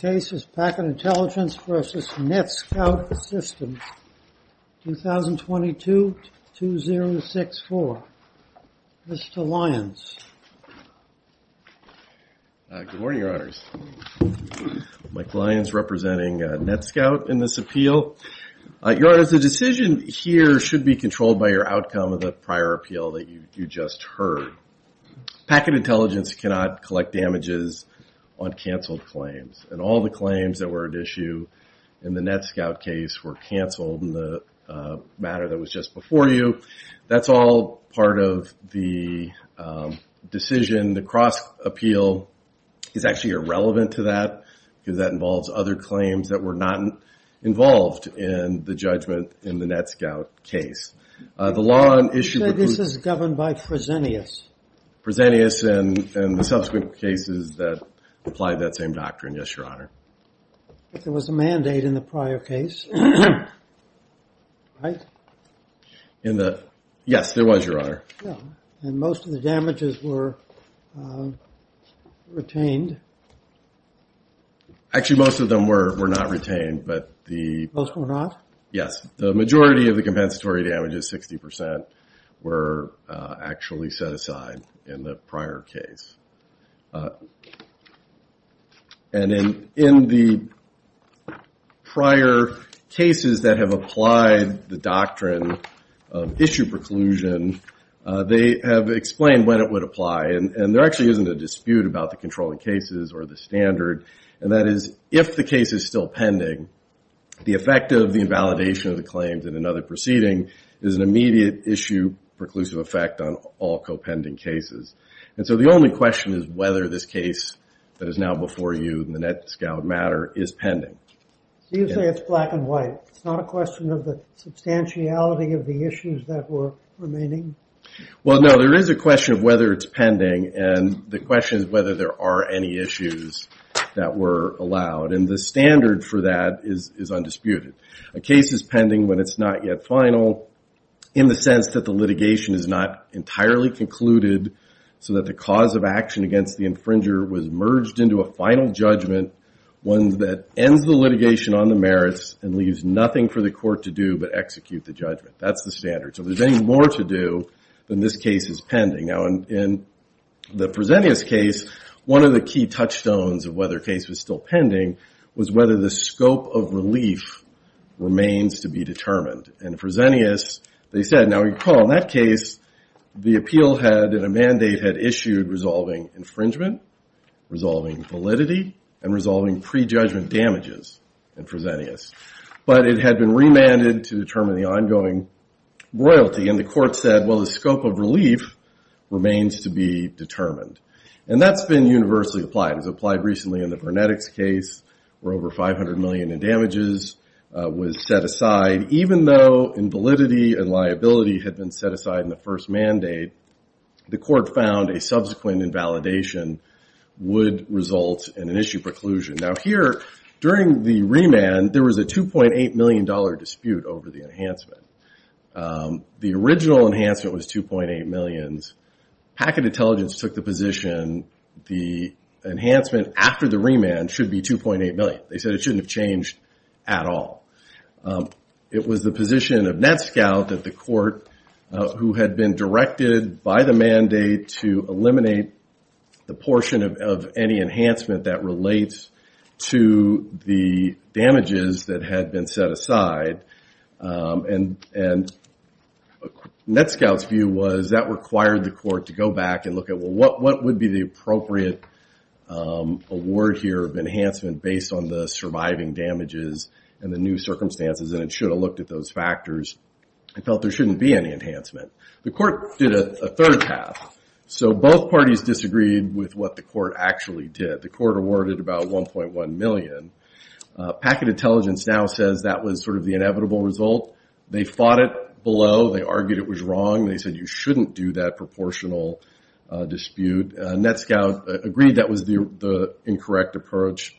Case is Packet Intelligence v. NetScout Systems, 2022-2064. This is to Lyons. Good morning, Your Honors. Mike Lyons, representing NetScout in this appeal. Your Honor, the decision here should be controlled by your outcome of the prior appeal that you just heard. Packet Intelligence cannot collect damages on all the claims that were at issue in the NetScout case were canceled in the matter that was just before you. That's all part of the decision. The cross appeal is actually irrelevant to that because that involves other claims that were not involved in the judgment in the NetScout case. The law on issue... This is governed by Presenius. Presenius and the subsequent cases that apply that same doctrine. Yes, Your Honor. There was a mandate in the prior case, right? Yes, there was, Your Honor. And most of the damages were retained? Actually, most of them were not retained, but the... Most were not? Yes. The majority of the And in the prior cases that have applied the doctrine of issue preclusion, they have explained when it would apply. And there actually isn't a dispute about the controlling cases or the standard. And that is, if the case is still pending, the effect of the invalidation of the claims in another proceeding is an immediate issue preclusive effect on all co-pending cases. And so the only question is whether this case that is now before you in the NetScout matter is pending. You say it's black and white. It's not a question of the substantiality of the issues that were remaining? Well, no. There is a question of whether it's pending and the question is whether there are any issues that were allowed. And the standard for that is undisputed. A case is pending when it's not yet final in the sense that the litigation is not entirely concluded so that the cause of action against the infringer was merged into a final judgment, one that ends the litigation on the merits and leaves nothing for the court to do but execute the judgment. That's the standard. So there's any more to do than this case is pending. Now, in the Fresenius case, one of the key touchstones of whether a case was still pending was whether the scope of relief remains to be determined. And Fresenius, they said... Now, recall in that case, the appeal head in a mandate had issued resolving infringement, resolving validity, and resolving prejudgment damages in Fresenius. But it had been remanded to determine the ongoing royalty and the court said, well, the scope of relief remains to be determined. And that's been universally applied. It was applied recently in the Vernetics case where over 500 million in damages was set aside. Even though invalidity and liability had been set aside in the first mandate, the court found a subsequent invalidation would result in an issue preclusion. Now, here, during the remand, there was a 2.8 million dollar dispute over the enhancement. The original enhancement was 2.8 millions. Packet Intelligence took the position the enhancement after the remand should be 2.8 million. They said it shouldn't have changed at all. It was the position of the court that it should, by the mandate, eliminate the portion of any enhancement that relates to the damages that had been set aside. And NETSCOUT's view was that required the court to go back and look at, well, what would be the appropriate award here of enhancement based on the surviving damages and the new circumstances? And it should have looked at those factors. It felt there was a third path. So both parties disagreed with what the court actually did. The court awarded about 1.1 million. Packet Intelligence now says that was sort of the inevitable result. They fought it below. They argued it was wrong. They said you shouldn't do that proportional dispute. NETSCOUT agreed that was the incorrect approach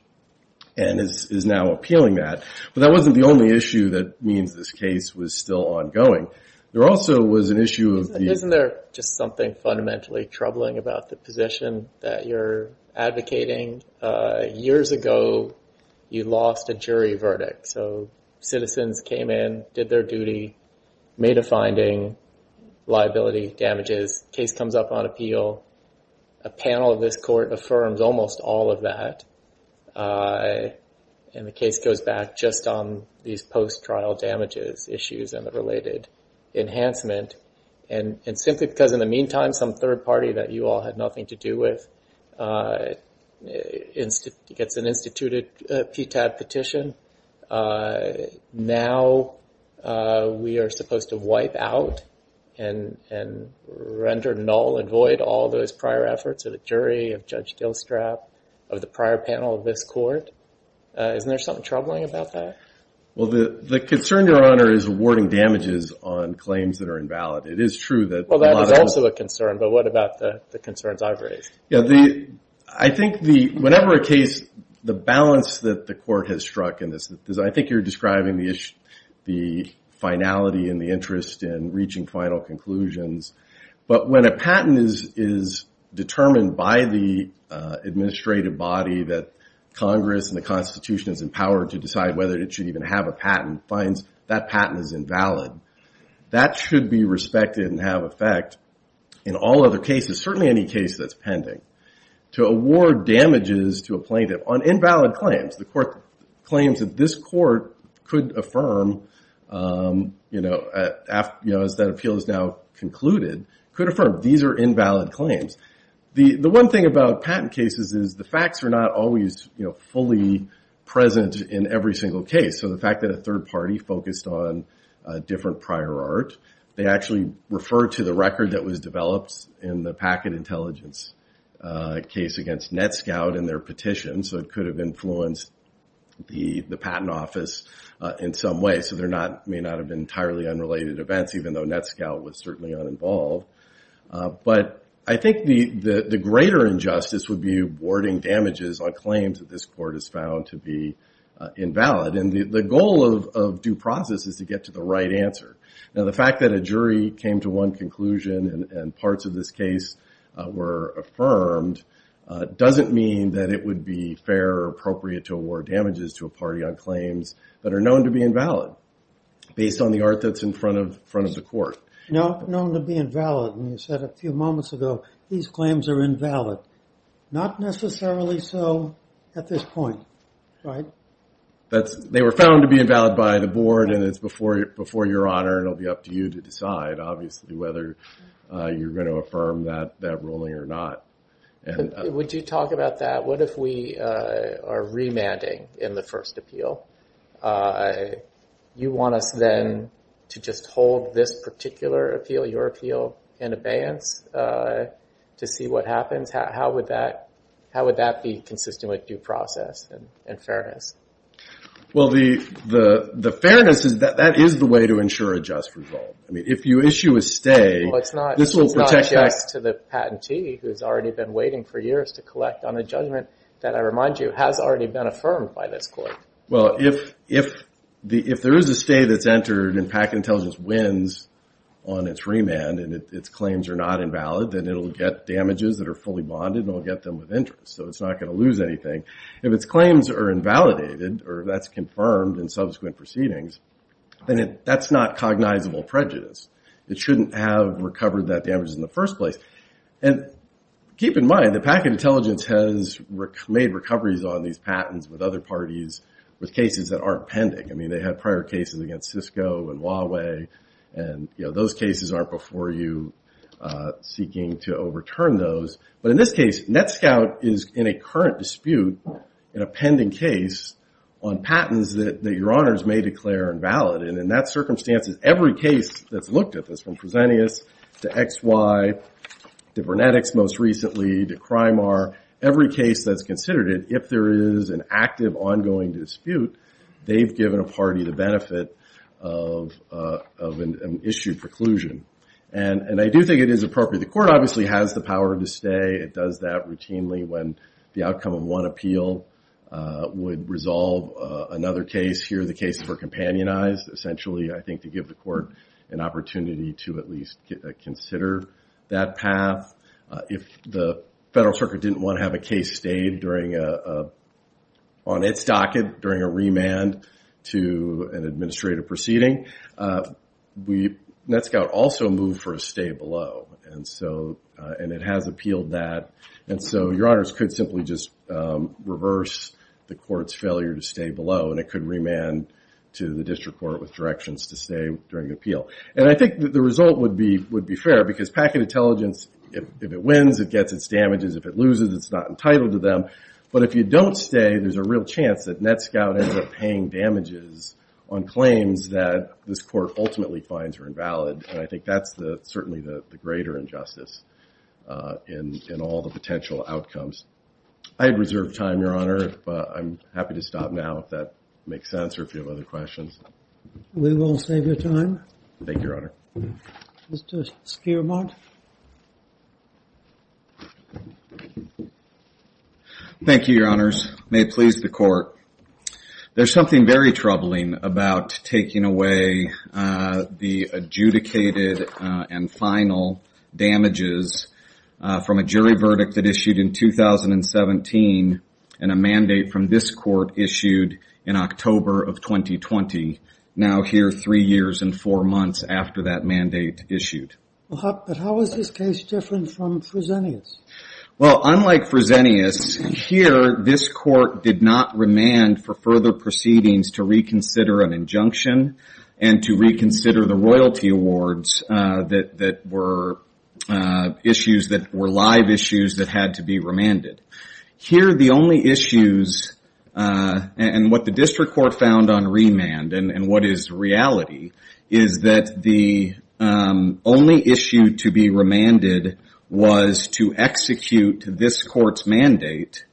and is now appealing that. But that wasn't the only issue that means this case was still ongoing. There also was an issue of isn't there just something fundamentally troubling about the position that you're advocating? Years ago, you lost a jury verdict. So citizens came in, did their duty, made a finding, liability, damages, case comes up on appeal. A panel of this court affirms almost all of that. And the case goes back just on these And simply because in the meantime, some third party that you all had nothing to do with gets an instituted PTAD petition. Now we are supposed to wipe out and render null and void all those prior efforts of the jury, of Judge Dillstrap, of the prior panel of this court. Isn't there something troubling about that? Well, the concern, Your Honor, is awarding damages on claims that are Well, that is also a concern. But what about the concerns I've raised? I think whenever a case, the balance that the court has struck in this, I think you're describing the issue, the finality and the interest in reaching final conclusions. But when a patent is determined by the administrative body that Congress and the Constitution is empowered to decide whether it should even have a patent, that patent is invalid. That should be respected and have effect in all other cases, certainly any case that's pending, to award damages to a plaintiff on invalid claims. The court claims that this court could affirm, as that appeal is now concluded, could affirm these are invalid claims. The one thing about patent cases is the facts are not always fully present in every single case. So the fact that a third party focused on a different prior art, they actually refer to the record that was developed in the packet intelligence case against NETSCOUT in their petition. So it could have influenced the patent office in some way. So there may not have been entirely unrelated events, even though NETSCOUT was certainly uninvolved. But I think the greater injustice would be awarding damages on claims that this court has found to be invalid. And the goal of due process is to get to the right answer. Now the fact that a jury came to one conclusion and parts of this case were affirmed, doesn't mean that it would be fair or appropriate to award damages to a party on claims that are known to be invalid, based on the art that's in front of the court. Known to be invalid, and you said a few moments ago, these claims are invalid. Not necessarily so at this point, right? They were found to be invalid by the board and it's before your honor. It'll be up to you to decide, obviously, whether you're going to affirm that ruling or not. Would you talk about that? What if we are remanding in the first appeal? You want us then to just hold this particular appeal, your appeal, in abeyance to see what happens? How would that be consistent with due process and fairness? Well, the fairness is that that is the way to ensure a just result. I mean, if you issue a stay, this will protect... Well, it's not just to the patentee who's already been waiting for years to collect on a judgment that, I remind you, has already been affirmed by this court. Well, if there is a stay that's entered and PAC Intelligence wins on its remand and its claims are not invalid, then it'll get damages that are fully bonded and it'll get them with interest. So it's not going to lose anything. If its claims are invalidated or that's confirmed in subsequent proceedings, then that's not cognizable prejudice. It shouldn't have recovered that damage in the first place. And keep in mind that PAC Intelligence has made recoveries on these patents with other parties with cases that aren't pending. I mean, they had prior cases against Cisco and Huawei and those cases aren't before you seeking to overturn those. But in this case, Netscout is in a current dispute in a pending case on patents that your honors may declare invalid. And in that circumstance, every case that's looked at this, from Presenius to XY to Vernetics most recently to Crimar, every case that's considered it, if there is an active ongoing dispute, they've given a party the benefit of an issued preclusion. And I do think it is appropriate. The outcome of one appeal would resolve another case. Here, the cases were companionized. Essentially, I think to give the court an opportunity to at least consider that path. If the federal circuit didn't want to have a case stayed on its docket during a remand to an administrative proceeding, Netscout also moved for a stay below. And it has appealed that. And so your honors could simply just reverse the court's failure to stay below and it could remand to the district court with directions to stay during the appeal. And I think the result would be fair because packet intelligence, if it wins, it gets its damages. If it loses, it's not entitled to them. But if you don't stay, there's a real chance that Netscout ends up paying damages on claims that this court ultimately finds are invalid. And I think that's certainly the greater injustice in all the potential outcomes. I have reserved time, your honor, but I'm happy to stop now if that makes sense or if you have other questions. We will save your time. Thank you, your honor. Mr. Spearmont. Thank you, your honors. May it please the court. There's something very different in terms of damages from a jury verdict that issued in 2017 and a mandate from this court issued in October of 2020, now here three years and four months after that mandate issued. But how is this case different from Fresenius? Well, unlike Fresenius, here this court did not remand for further proceedings to reconsider an injunction and to reconsider the royalty awards that were issues that were live issues that had to be remanded. Here, the only issues and what the district court found on remand and what is reality is that the only issue to be remanded was to execute this court's mandate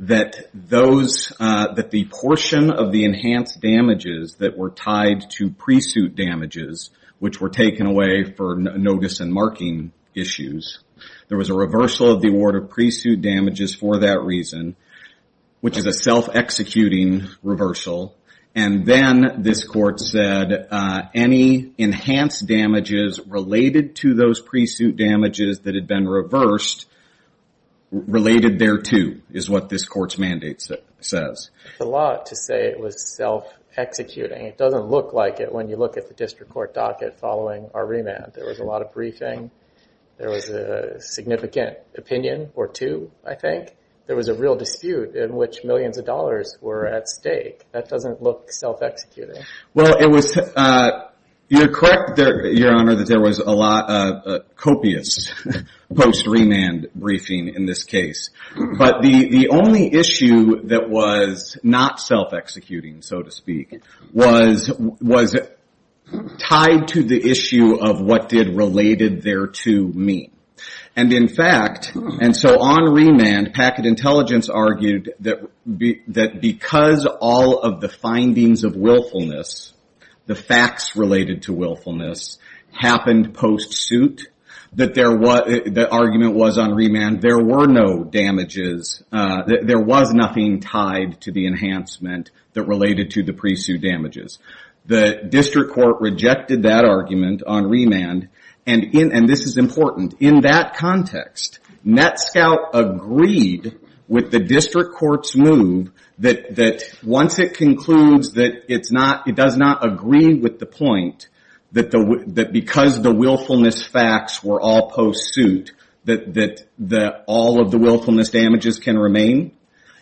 that the portion of the enhanced damages that were tied to pre-suit damages, which were taken away for notice and marking issues. There was a reversal of the award of pre-suit damages for that reason, which is a self-executing reversal. And then this court said any enhanced damages related to those pre-suit damages that had been reversed, related there too, is what this court's mandate says. It's a lot to say it was self-executing. It doesn't look like it when you look at the district court docket following our remand. There was a lot of briefing. There was a significant opinion or two, I think. There was a real dispute in which millions of dollars were at stake. That doesn't look self-executing. Well, you're correct, Your Honor, that there was a lot of copious post-remand briefing in this case. But the only issue that was not self-executing, so to speak, was tied to the issue of what did related there too mean. And in fact, and so on remand, Packet Intelligence argued that because all of the findings of willfulness, the facts related to willfulness, happened post-suit, that the argument was on remand there were no damages. There was nothing tied to the enhancement that related to the pre-suit damages. The district court rejected that argument on remand. And this is important. In that context, NETSCOUT agreed with the district court's move that once it concludes that it does not agree with the point that because the willfulness facts were all post-suit, that all of the willfulness damages can remain.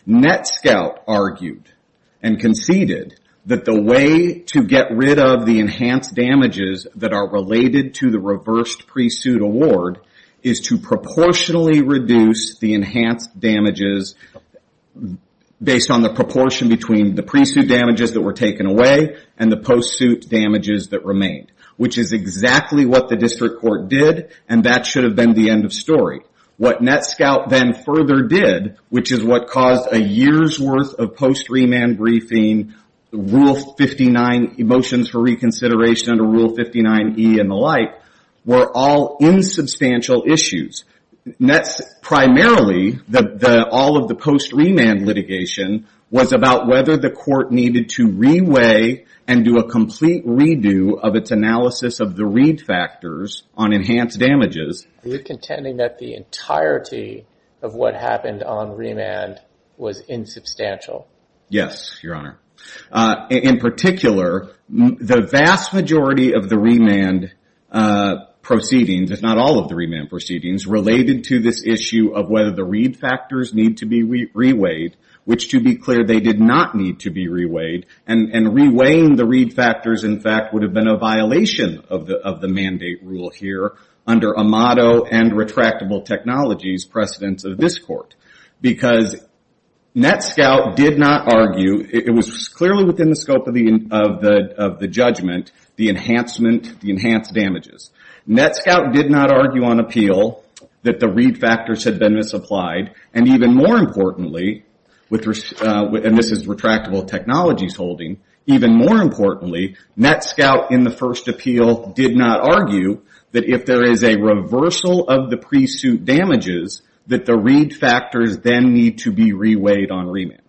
NETSCOUT argued and conceded that the way to get rid of the enhanced damages that are related to the reversed pre-suit award is to proportionally reduce the enhanced damages based on the proportion between the pre-suit damages that were taken away and the post-suit damages that remained, which is exactly what the should have been the end of story. What NETSCOUT then further did, which is what caused a year's worth of post-remand briefing, Rule 59 motions for reconsideration under Rule 59E and the like, were all insubstantial issues. Primarily, all of the post-remand litigation was about whether the court needed to re-weigh and do a complete redo of its analysis of the factors on enhanced damages. Are you contending that the entirety of what happened on remand was insubstantial? Yes, your honor. In particular, the vast majority of the remand proceedings, if not all of the remand proceedings, related to this issue of whether the read factors need to be re-weighed, which to be clear, they did not need to be re-weighed. And re-weighing the read factors, in fact, would have been a violation of the mandate rule here under Amato and Retractable Technologies precedence of this court. Because NETSCOUT did not argue, it was clearly within the scope of the judgment, the enhanced damages. NETSCOUT did not argue on appeal that the read factors had been misapplied. And even more importantly, and this is NETSCOUT in the first appeal did not argue, that if there is a reversal of the pre-suit damages, that the read factors then need to be re-weighed on remand.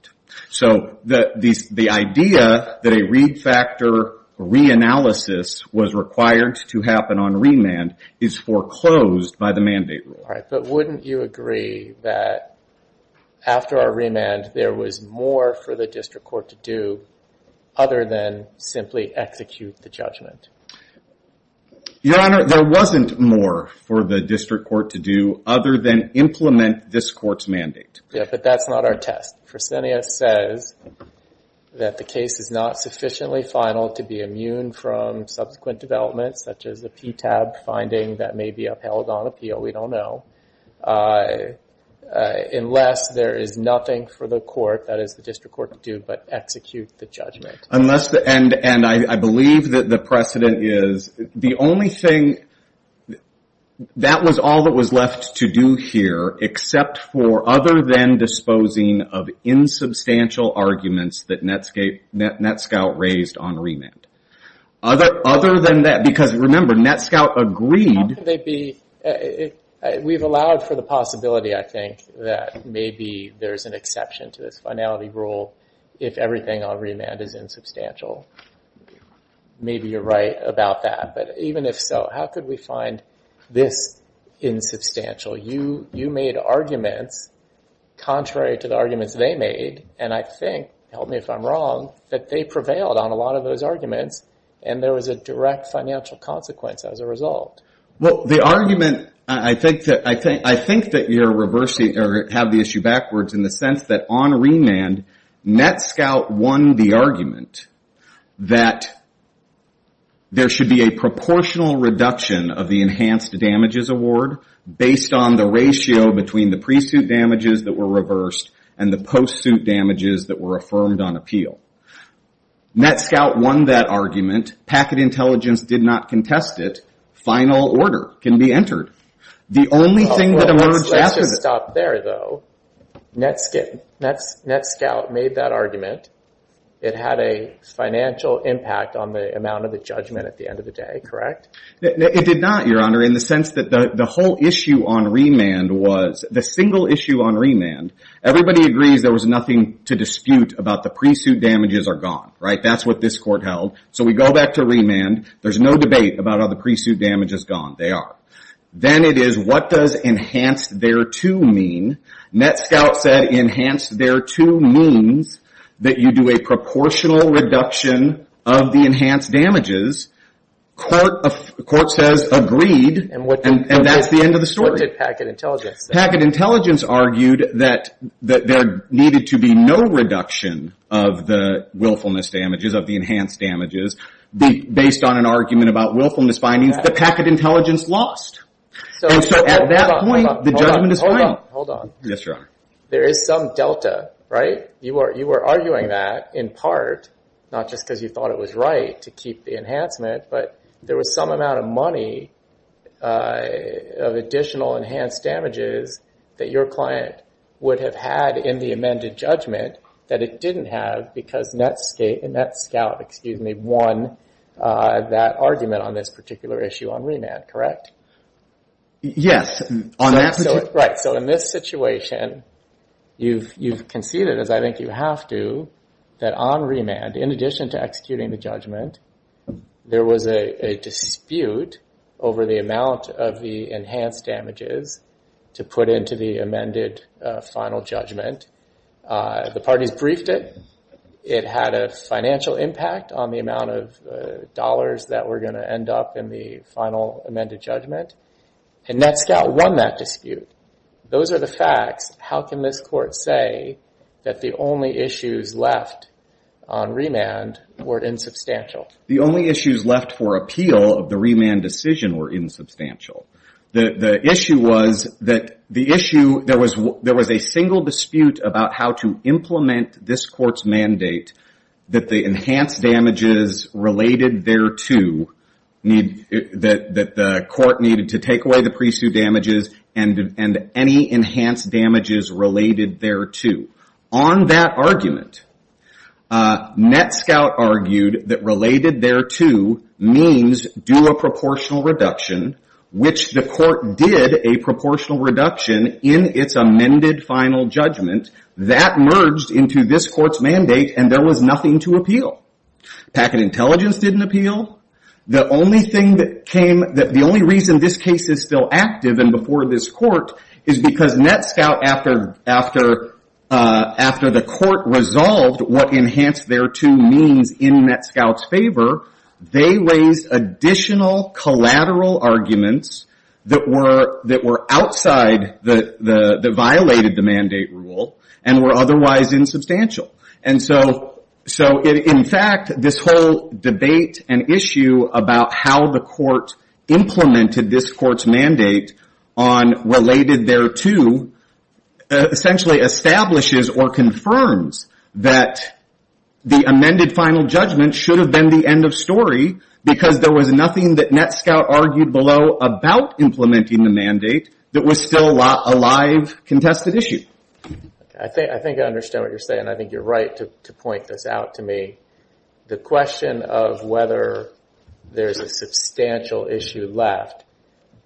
So the idea that a read factor re-analysis was required to happen on remand is foreclosed by the mandate rule. But wouldn't you agree that after our remand there was more for the district court to do other than simply execute the judgment? Your Honor, there wasn't more for the district court to do other than implement this court's mandate. Yeah, but that's not our test. Fresenius says that the case is not sufficiently final to be immune from subsequent developments, such as a PTAB finding that may be upheld on appeal. We don't know. Unless there is nothing for the court, that is the district court to do, but execute the judgment. And I believe that the precedent is, the only thing, that was all that was left to do here, except for other than disposing of insubstantial arguments that NETSCOUT raised on remand. Other than that, because remember, NETSCOUT agreed. We've allowed for the possibility, I think, that maybe there's an exception to this finality rule if everything on remand is insubstantial. Maybe you're right about that, but even if so, how could we find this insubstantial? You made arguments contrary to the arguments they made, and I think, help me if I'm wrong, that they prevailed on a lot of those arguments, and there was a direct financial consequence as a result. Well, the issue backwards in the sense that on remand, NETSCOUT won the argument that there should be a proportional reduction of the enhanced damages award based on the ratio between the pre-suit damages that were reversed and the post-suit damages that were affirmed on appeal. NETSCOUT won that argument. Packet Intelligence did not contest it. Final order can be entered. The only thing that was there, though, NETSCOUT made that argument. It had a financial impact on the amount of the judgment at the end of the day, correct? It did not, Your Honor, in the sense that the whole issue on remand was, the single issue on remand, everybody agrees there was nothing to dispute about the pre-suit damages are gone, right? That's what this court held, so we go back to remand. There's no debate about how the pre-suit damage is gone. They are. Then it is, what does enhanced thereto mean? NETSCOUT said enhanced thereto means that you do a proportional reduction of the enhanced damages. Court says agreed, and that's the end of the story. What did Packet Intelligence say? Packet Intelligence argued that there needed to be no reduction of the willfulness damages, of the enhanced damages, based on an argument about willfulness findings. The Packet Intelligence lost. At that point, the judgment is final. Hold on. Yes, Your Honor. There is some delta, right? You were arguing that in part, not just because you thought it was right to keep the enhancement, but there was some amount of money of additional enhanced damages that your client would have had in the amended judgment that it didn't have because NETSCOUT won that argument on this particular issue on remand, correct? Yes. On after... Right. In this situation, you've conceded, as I think you have to, that on remand, in addition to executing the judgment, there was a dispute over the amount of the enhanced damages to put into the amended final judgment. The parties briefed it. It had a financial impact on the amount of dollars that were going to end up in the final amended judgment, and NETSCOUT won that dispute. Those are the facts. How can this court say that the only issues left on remand were insubstantial? The only issues left for appeal of the remand decision were insubstantial. The issue was that there was a single dispute about how to implement this court's mandate that the enhanced damages related thereto, that the court needed to take away the pre-sue damages and any enhanced damages related thereto. On that argument, NETSCOUT argued that related thereto means do a proportional reduction, which the court did a proportional reduction in its amended final judgment. That merged into this court's mandate, and there was nothing to appeal. Packet intelligence didn't appeal. The only reason this case is still active and before this court is because NETSCOUT, after the court resolved what enhanced thereto means in NETSCOUT's favor, they raised additional collateral arguments that were outside, that violated the mandate rule and were otherwise insubstantial. In fact, this whole debate and issue about how the court implemented this court's mandate on related thereto essentially establishes or confirms that the amended final judgment should be reviewed. There was nothing that NETSCOUT argued below about implementing the mandate that was still a live contested issue. I think I understand what you're saying. I think you're right to point this out to me. The question of whether there's a substantial issue left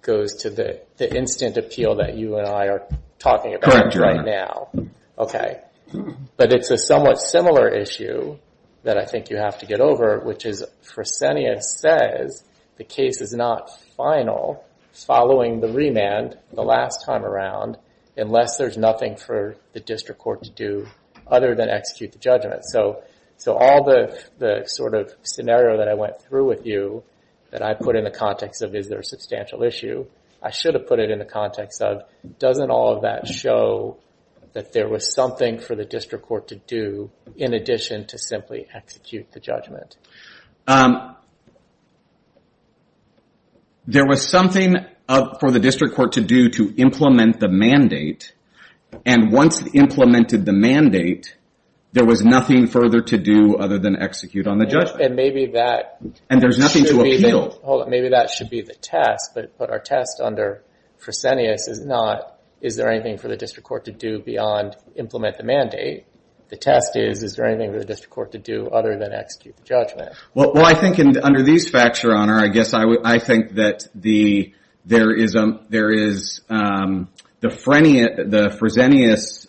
goes to the instant appeal that you and I are talking about right now. It's a somewhat similar issue that I think you have to get over, which is the case is not final following the remand the last time around unless there's nothing for the district court to do other than execute the judgment. All the scenario that I went through with you that I put in the context of is there a substantial issue, I should have put it in the context of doesn't all of that show that there was something for the district court to do in addition to simply execute the judgment. There was something for the district court to do to implement the mandate and once implemented the mandate there was nothing further to do other than execute on the judgment. Maybe that should be the test, but our test under Fresenius is not is there anything for the district court to do beyond implement the mandate. The test is, is there anything for the district court to do other than execute the judgment. Well, I think under these facts, your honor, I think that there is the Fresenius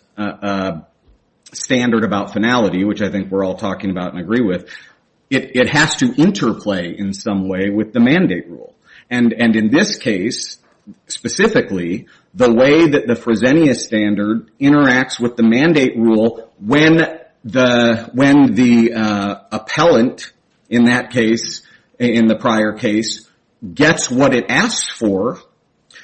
standard about finality, which I think we're all talking about and agree with, it has to interplay in some way with the mandate rule. And in this case, specifically, the way that the Fresenius standard interacts with the mandate rule when the appellant in that case, in the prior case, gets what it asks for,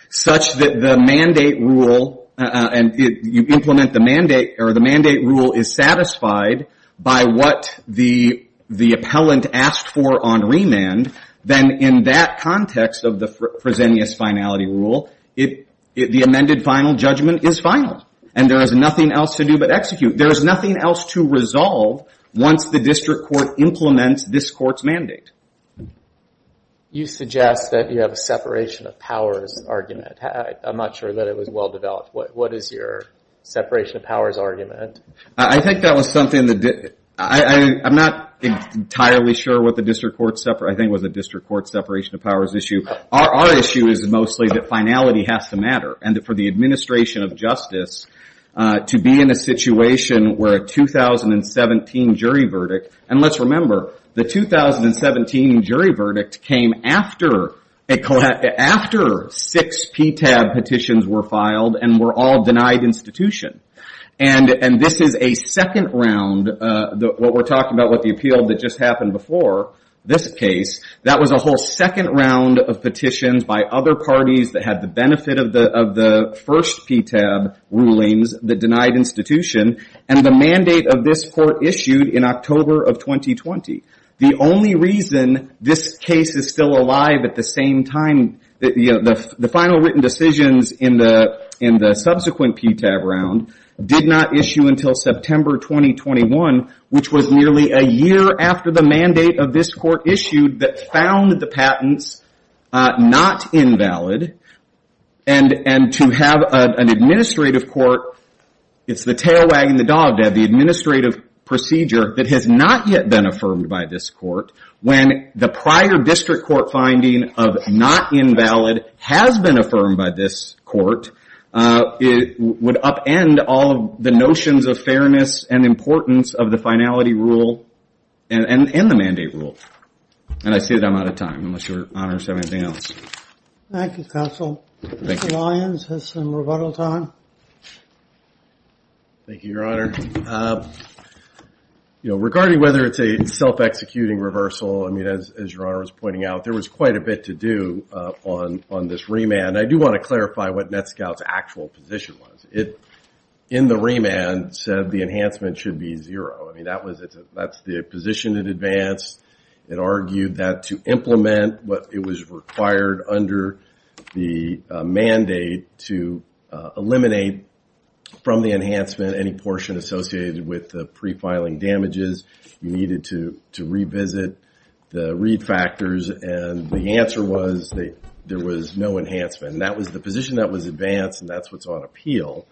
such that the mandate rule, and you implement the mandate, or the mandate rule is satisfied by what the appellant asked for on remand, then in that context of Fresenius finality rule, the amended final judgment is final and there is nothing else to do but execute. There is nothing else to resolve once the district court implements this court's mandate. You suggest that you have a separation of powers argument. I'm not sure that it was well developed. What is your separation of powers argument? I think that was something that, I'm not entirely sure what the district court, I think it was a district court separation of powers issue. Our issue is mostly that finality has to matter and that for the administration of justice to be in a situation where a 2017 jury verdict, and let's remember, the 2017 jury verdict came after six PTAB petitions were filed and were all denied institution. And this is a second round, what we're talking about with the appeal that just happened before this case, that was a whole second round of petitions by other parties that had the benefit of the first PTAB rulings that denied institution and the mandate of this court issued in October of 2020. The only reason this case is still alive at the same time, the final written decisions in the subsequent PTAB round did not issue until September 2021, which was nearly a year after the mandate of this court issued that found the patents not invalid. And to have an administrative court, it's the tail wagging the dog to have the administrative procedure that has not yet been affirmed by this court. When the prior district court finding of not invalid has been affirmed by this court, it would upend all of the notions of fairness and importance of the finality rule and the and I say that I'm out of time unless your honors have anything else. Thank you, counsel. Mr. Lyons has some rebuttal time. Thank you, your honor. You know, regarding whether it's a self-executing reversal, I mean, as your honor was pointing out, there was quite a bit to do on this remand. I do want to clarify what NETSCOUT's actual position was. It, in the remand, said the enhancement should be zero. I mean, that's the position in the remand. It argued that to implement what it was required under the mandate to eliminate from the enhancement any portion associated with the prefiling damages, you needed to revisit the read factors. And the answer was that there was no enhancement. And that was the position that was advanced, and that's what's on appeal.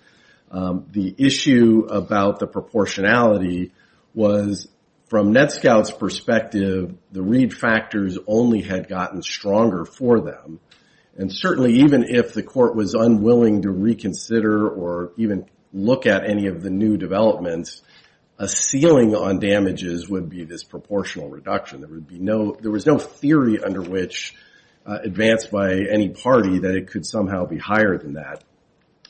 The issue about the proportionality was, from NETSCOUT's perspective, the read factors only had gotten stronger for them. And certainly, even if the court was unwilling to reconsider or even look at any of the new developments, a ceiling on damages would be this proportional reduction. There would be no, there was no theory under which advanced by any party that it could somehow be higher than that.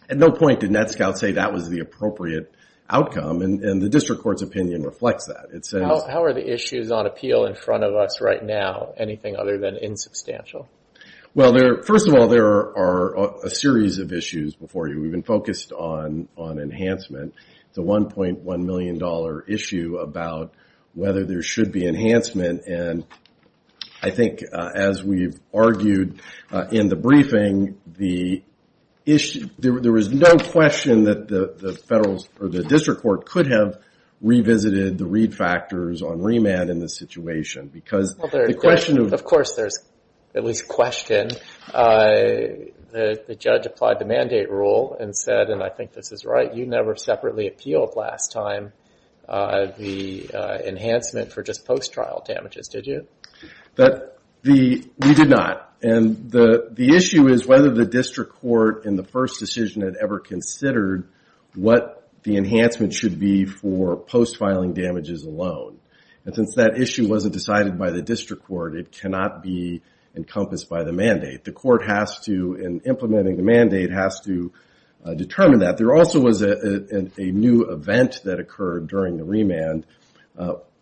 At no point did NETSCOUT say that was the appropriate outcome, and the district court's opinion reflects that. It says... It's on appeal in front of us right now, anything other than insubstantial. Well, first of all, there are a series of issues before you. We've been focused on enhancement. It's a $1.1 million issue about whether there should be enhancement. And I think, as we've argued in the briefing, there was no question that the district court could have revisited the read factors on this situation. Because the question of... Of course, there's at least a question. The judge applied the mandate rule and said, and I think this is right, you never separately appealed last time the enhancement for just post-trial damages, did you? We did not. And the issue is whether the district court, in the first decision it ever considered, what the enhancement should be for post-filing damages alone. And since that issue wasn't decided by the district court, it cannot be encompassed by the mandate. The court has to, in implementing the mandate, has to determine that. There also was a new event that occurred during the remand.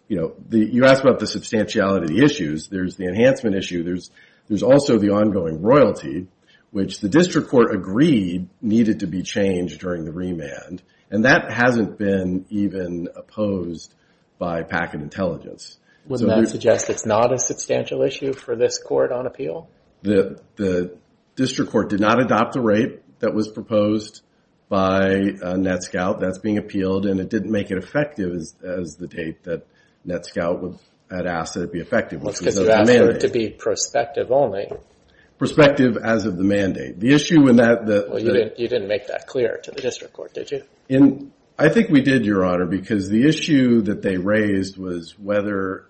You know, you asked about the substantiality of the issues. There's the enhancement issue. There's also the ongoing royalty, which the district court agreed needed to be changed during the remand. And that hasn't been even opposed by packet intelligence. Wouldn't that suggest it's not a substantial issue for this court on appeal? The district court did not adopt the rate that was proposed by NETSCOUT. That's being appealed, and it didn't make it effective as the date that NETSCOUT had asked that it be effective. Because you asked for it to be prospective only. Prospective as of the mandate. The issue in that... You didn't make that clear to the district court, did you? I think we did, your honor, because the issue that they raised was whether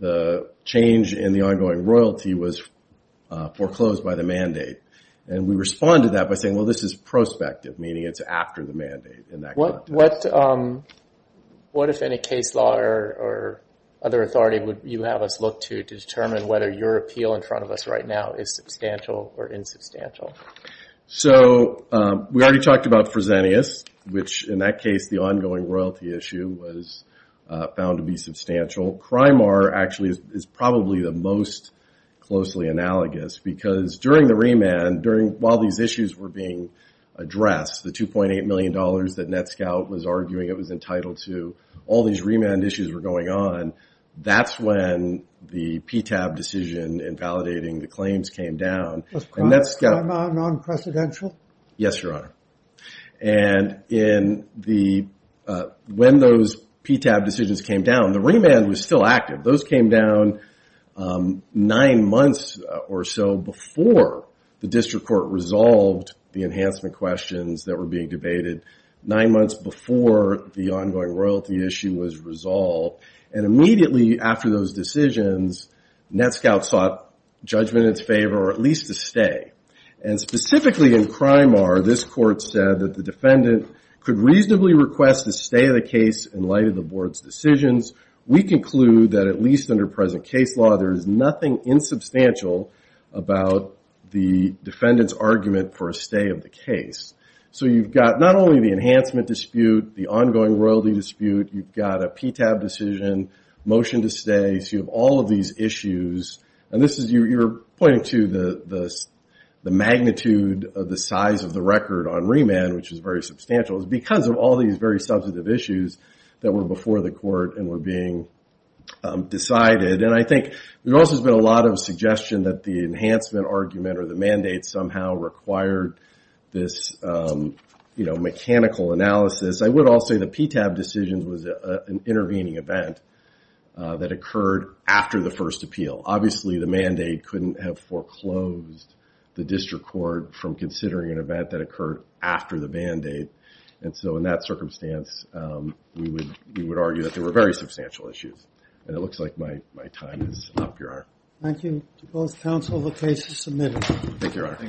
the change in the ongoing royalty was foreclosed by the mandate. And we responded to that by saying, well, this is prospective, meaning it's after the mandate in that context. What if any case law or other authority would you have us look to to determine whether your appeal in front of us right now is substantial or insubstantial? So we talked about Fresenius, which in that case the ongoing royalty issue was found to be substantial. CRIMAR actually is probably the most closely analogous because during the remand, while these issues were being addressed, the 2.8 million dollars that NETSCOUT was arguing it was entitled to, all these remand issues were going on. That's when the PTAB decision in validating the And when those PTAB decisions came down, the remand was still active. Those came down nine months or so before the district court resolved the enhancement questions that were being debated, nine months before the ongoing royalty issue was resolved. And immediately after those decisions, NETSCOUT sought judgment in its favor or at least to stay. And specifically in CRIMAR, this court said that the defendant could reasonably request the stay of the case in light of the board's decisions. We conclude that at least under present case law, there is nothing insubstantial about the defendant's argument for a stay of the case. So you've got not only the enhancement dispute, the ongoing royalty dispute, you've got a PTAB decision, motion to stay, so you have all of these pointing to the magnitude of the size of the record on remand, which is very substantial, is because of all these very substantive issues that were before the court and were being decided. And I think there also has been a lot of suggestion that the enhancement argument or the mandate somehow required this mechanical analysis. I would also say the PTAB decision was an intervening event that the mandate couldn't have foreclosed the district court from considering an event that occurred after the mandate. And so in that circumstance, we would argue that there were very substantial issues. And it looks like my time is up, Your Honor. Thank you to both counsel. The case is submitted. Thank you, Your Honor.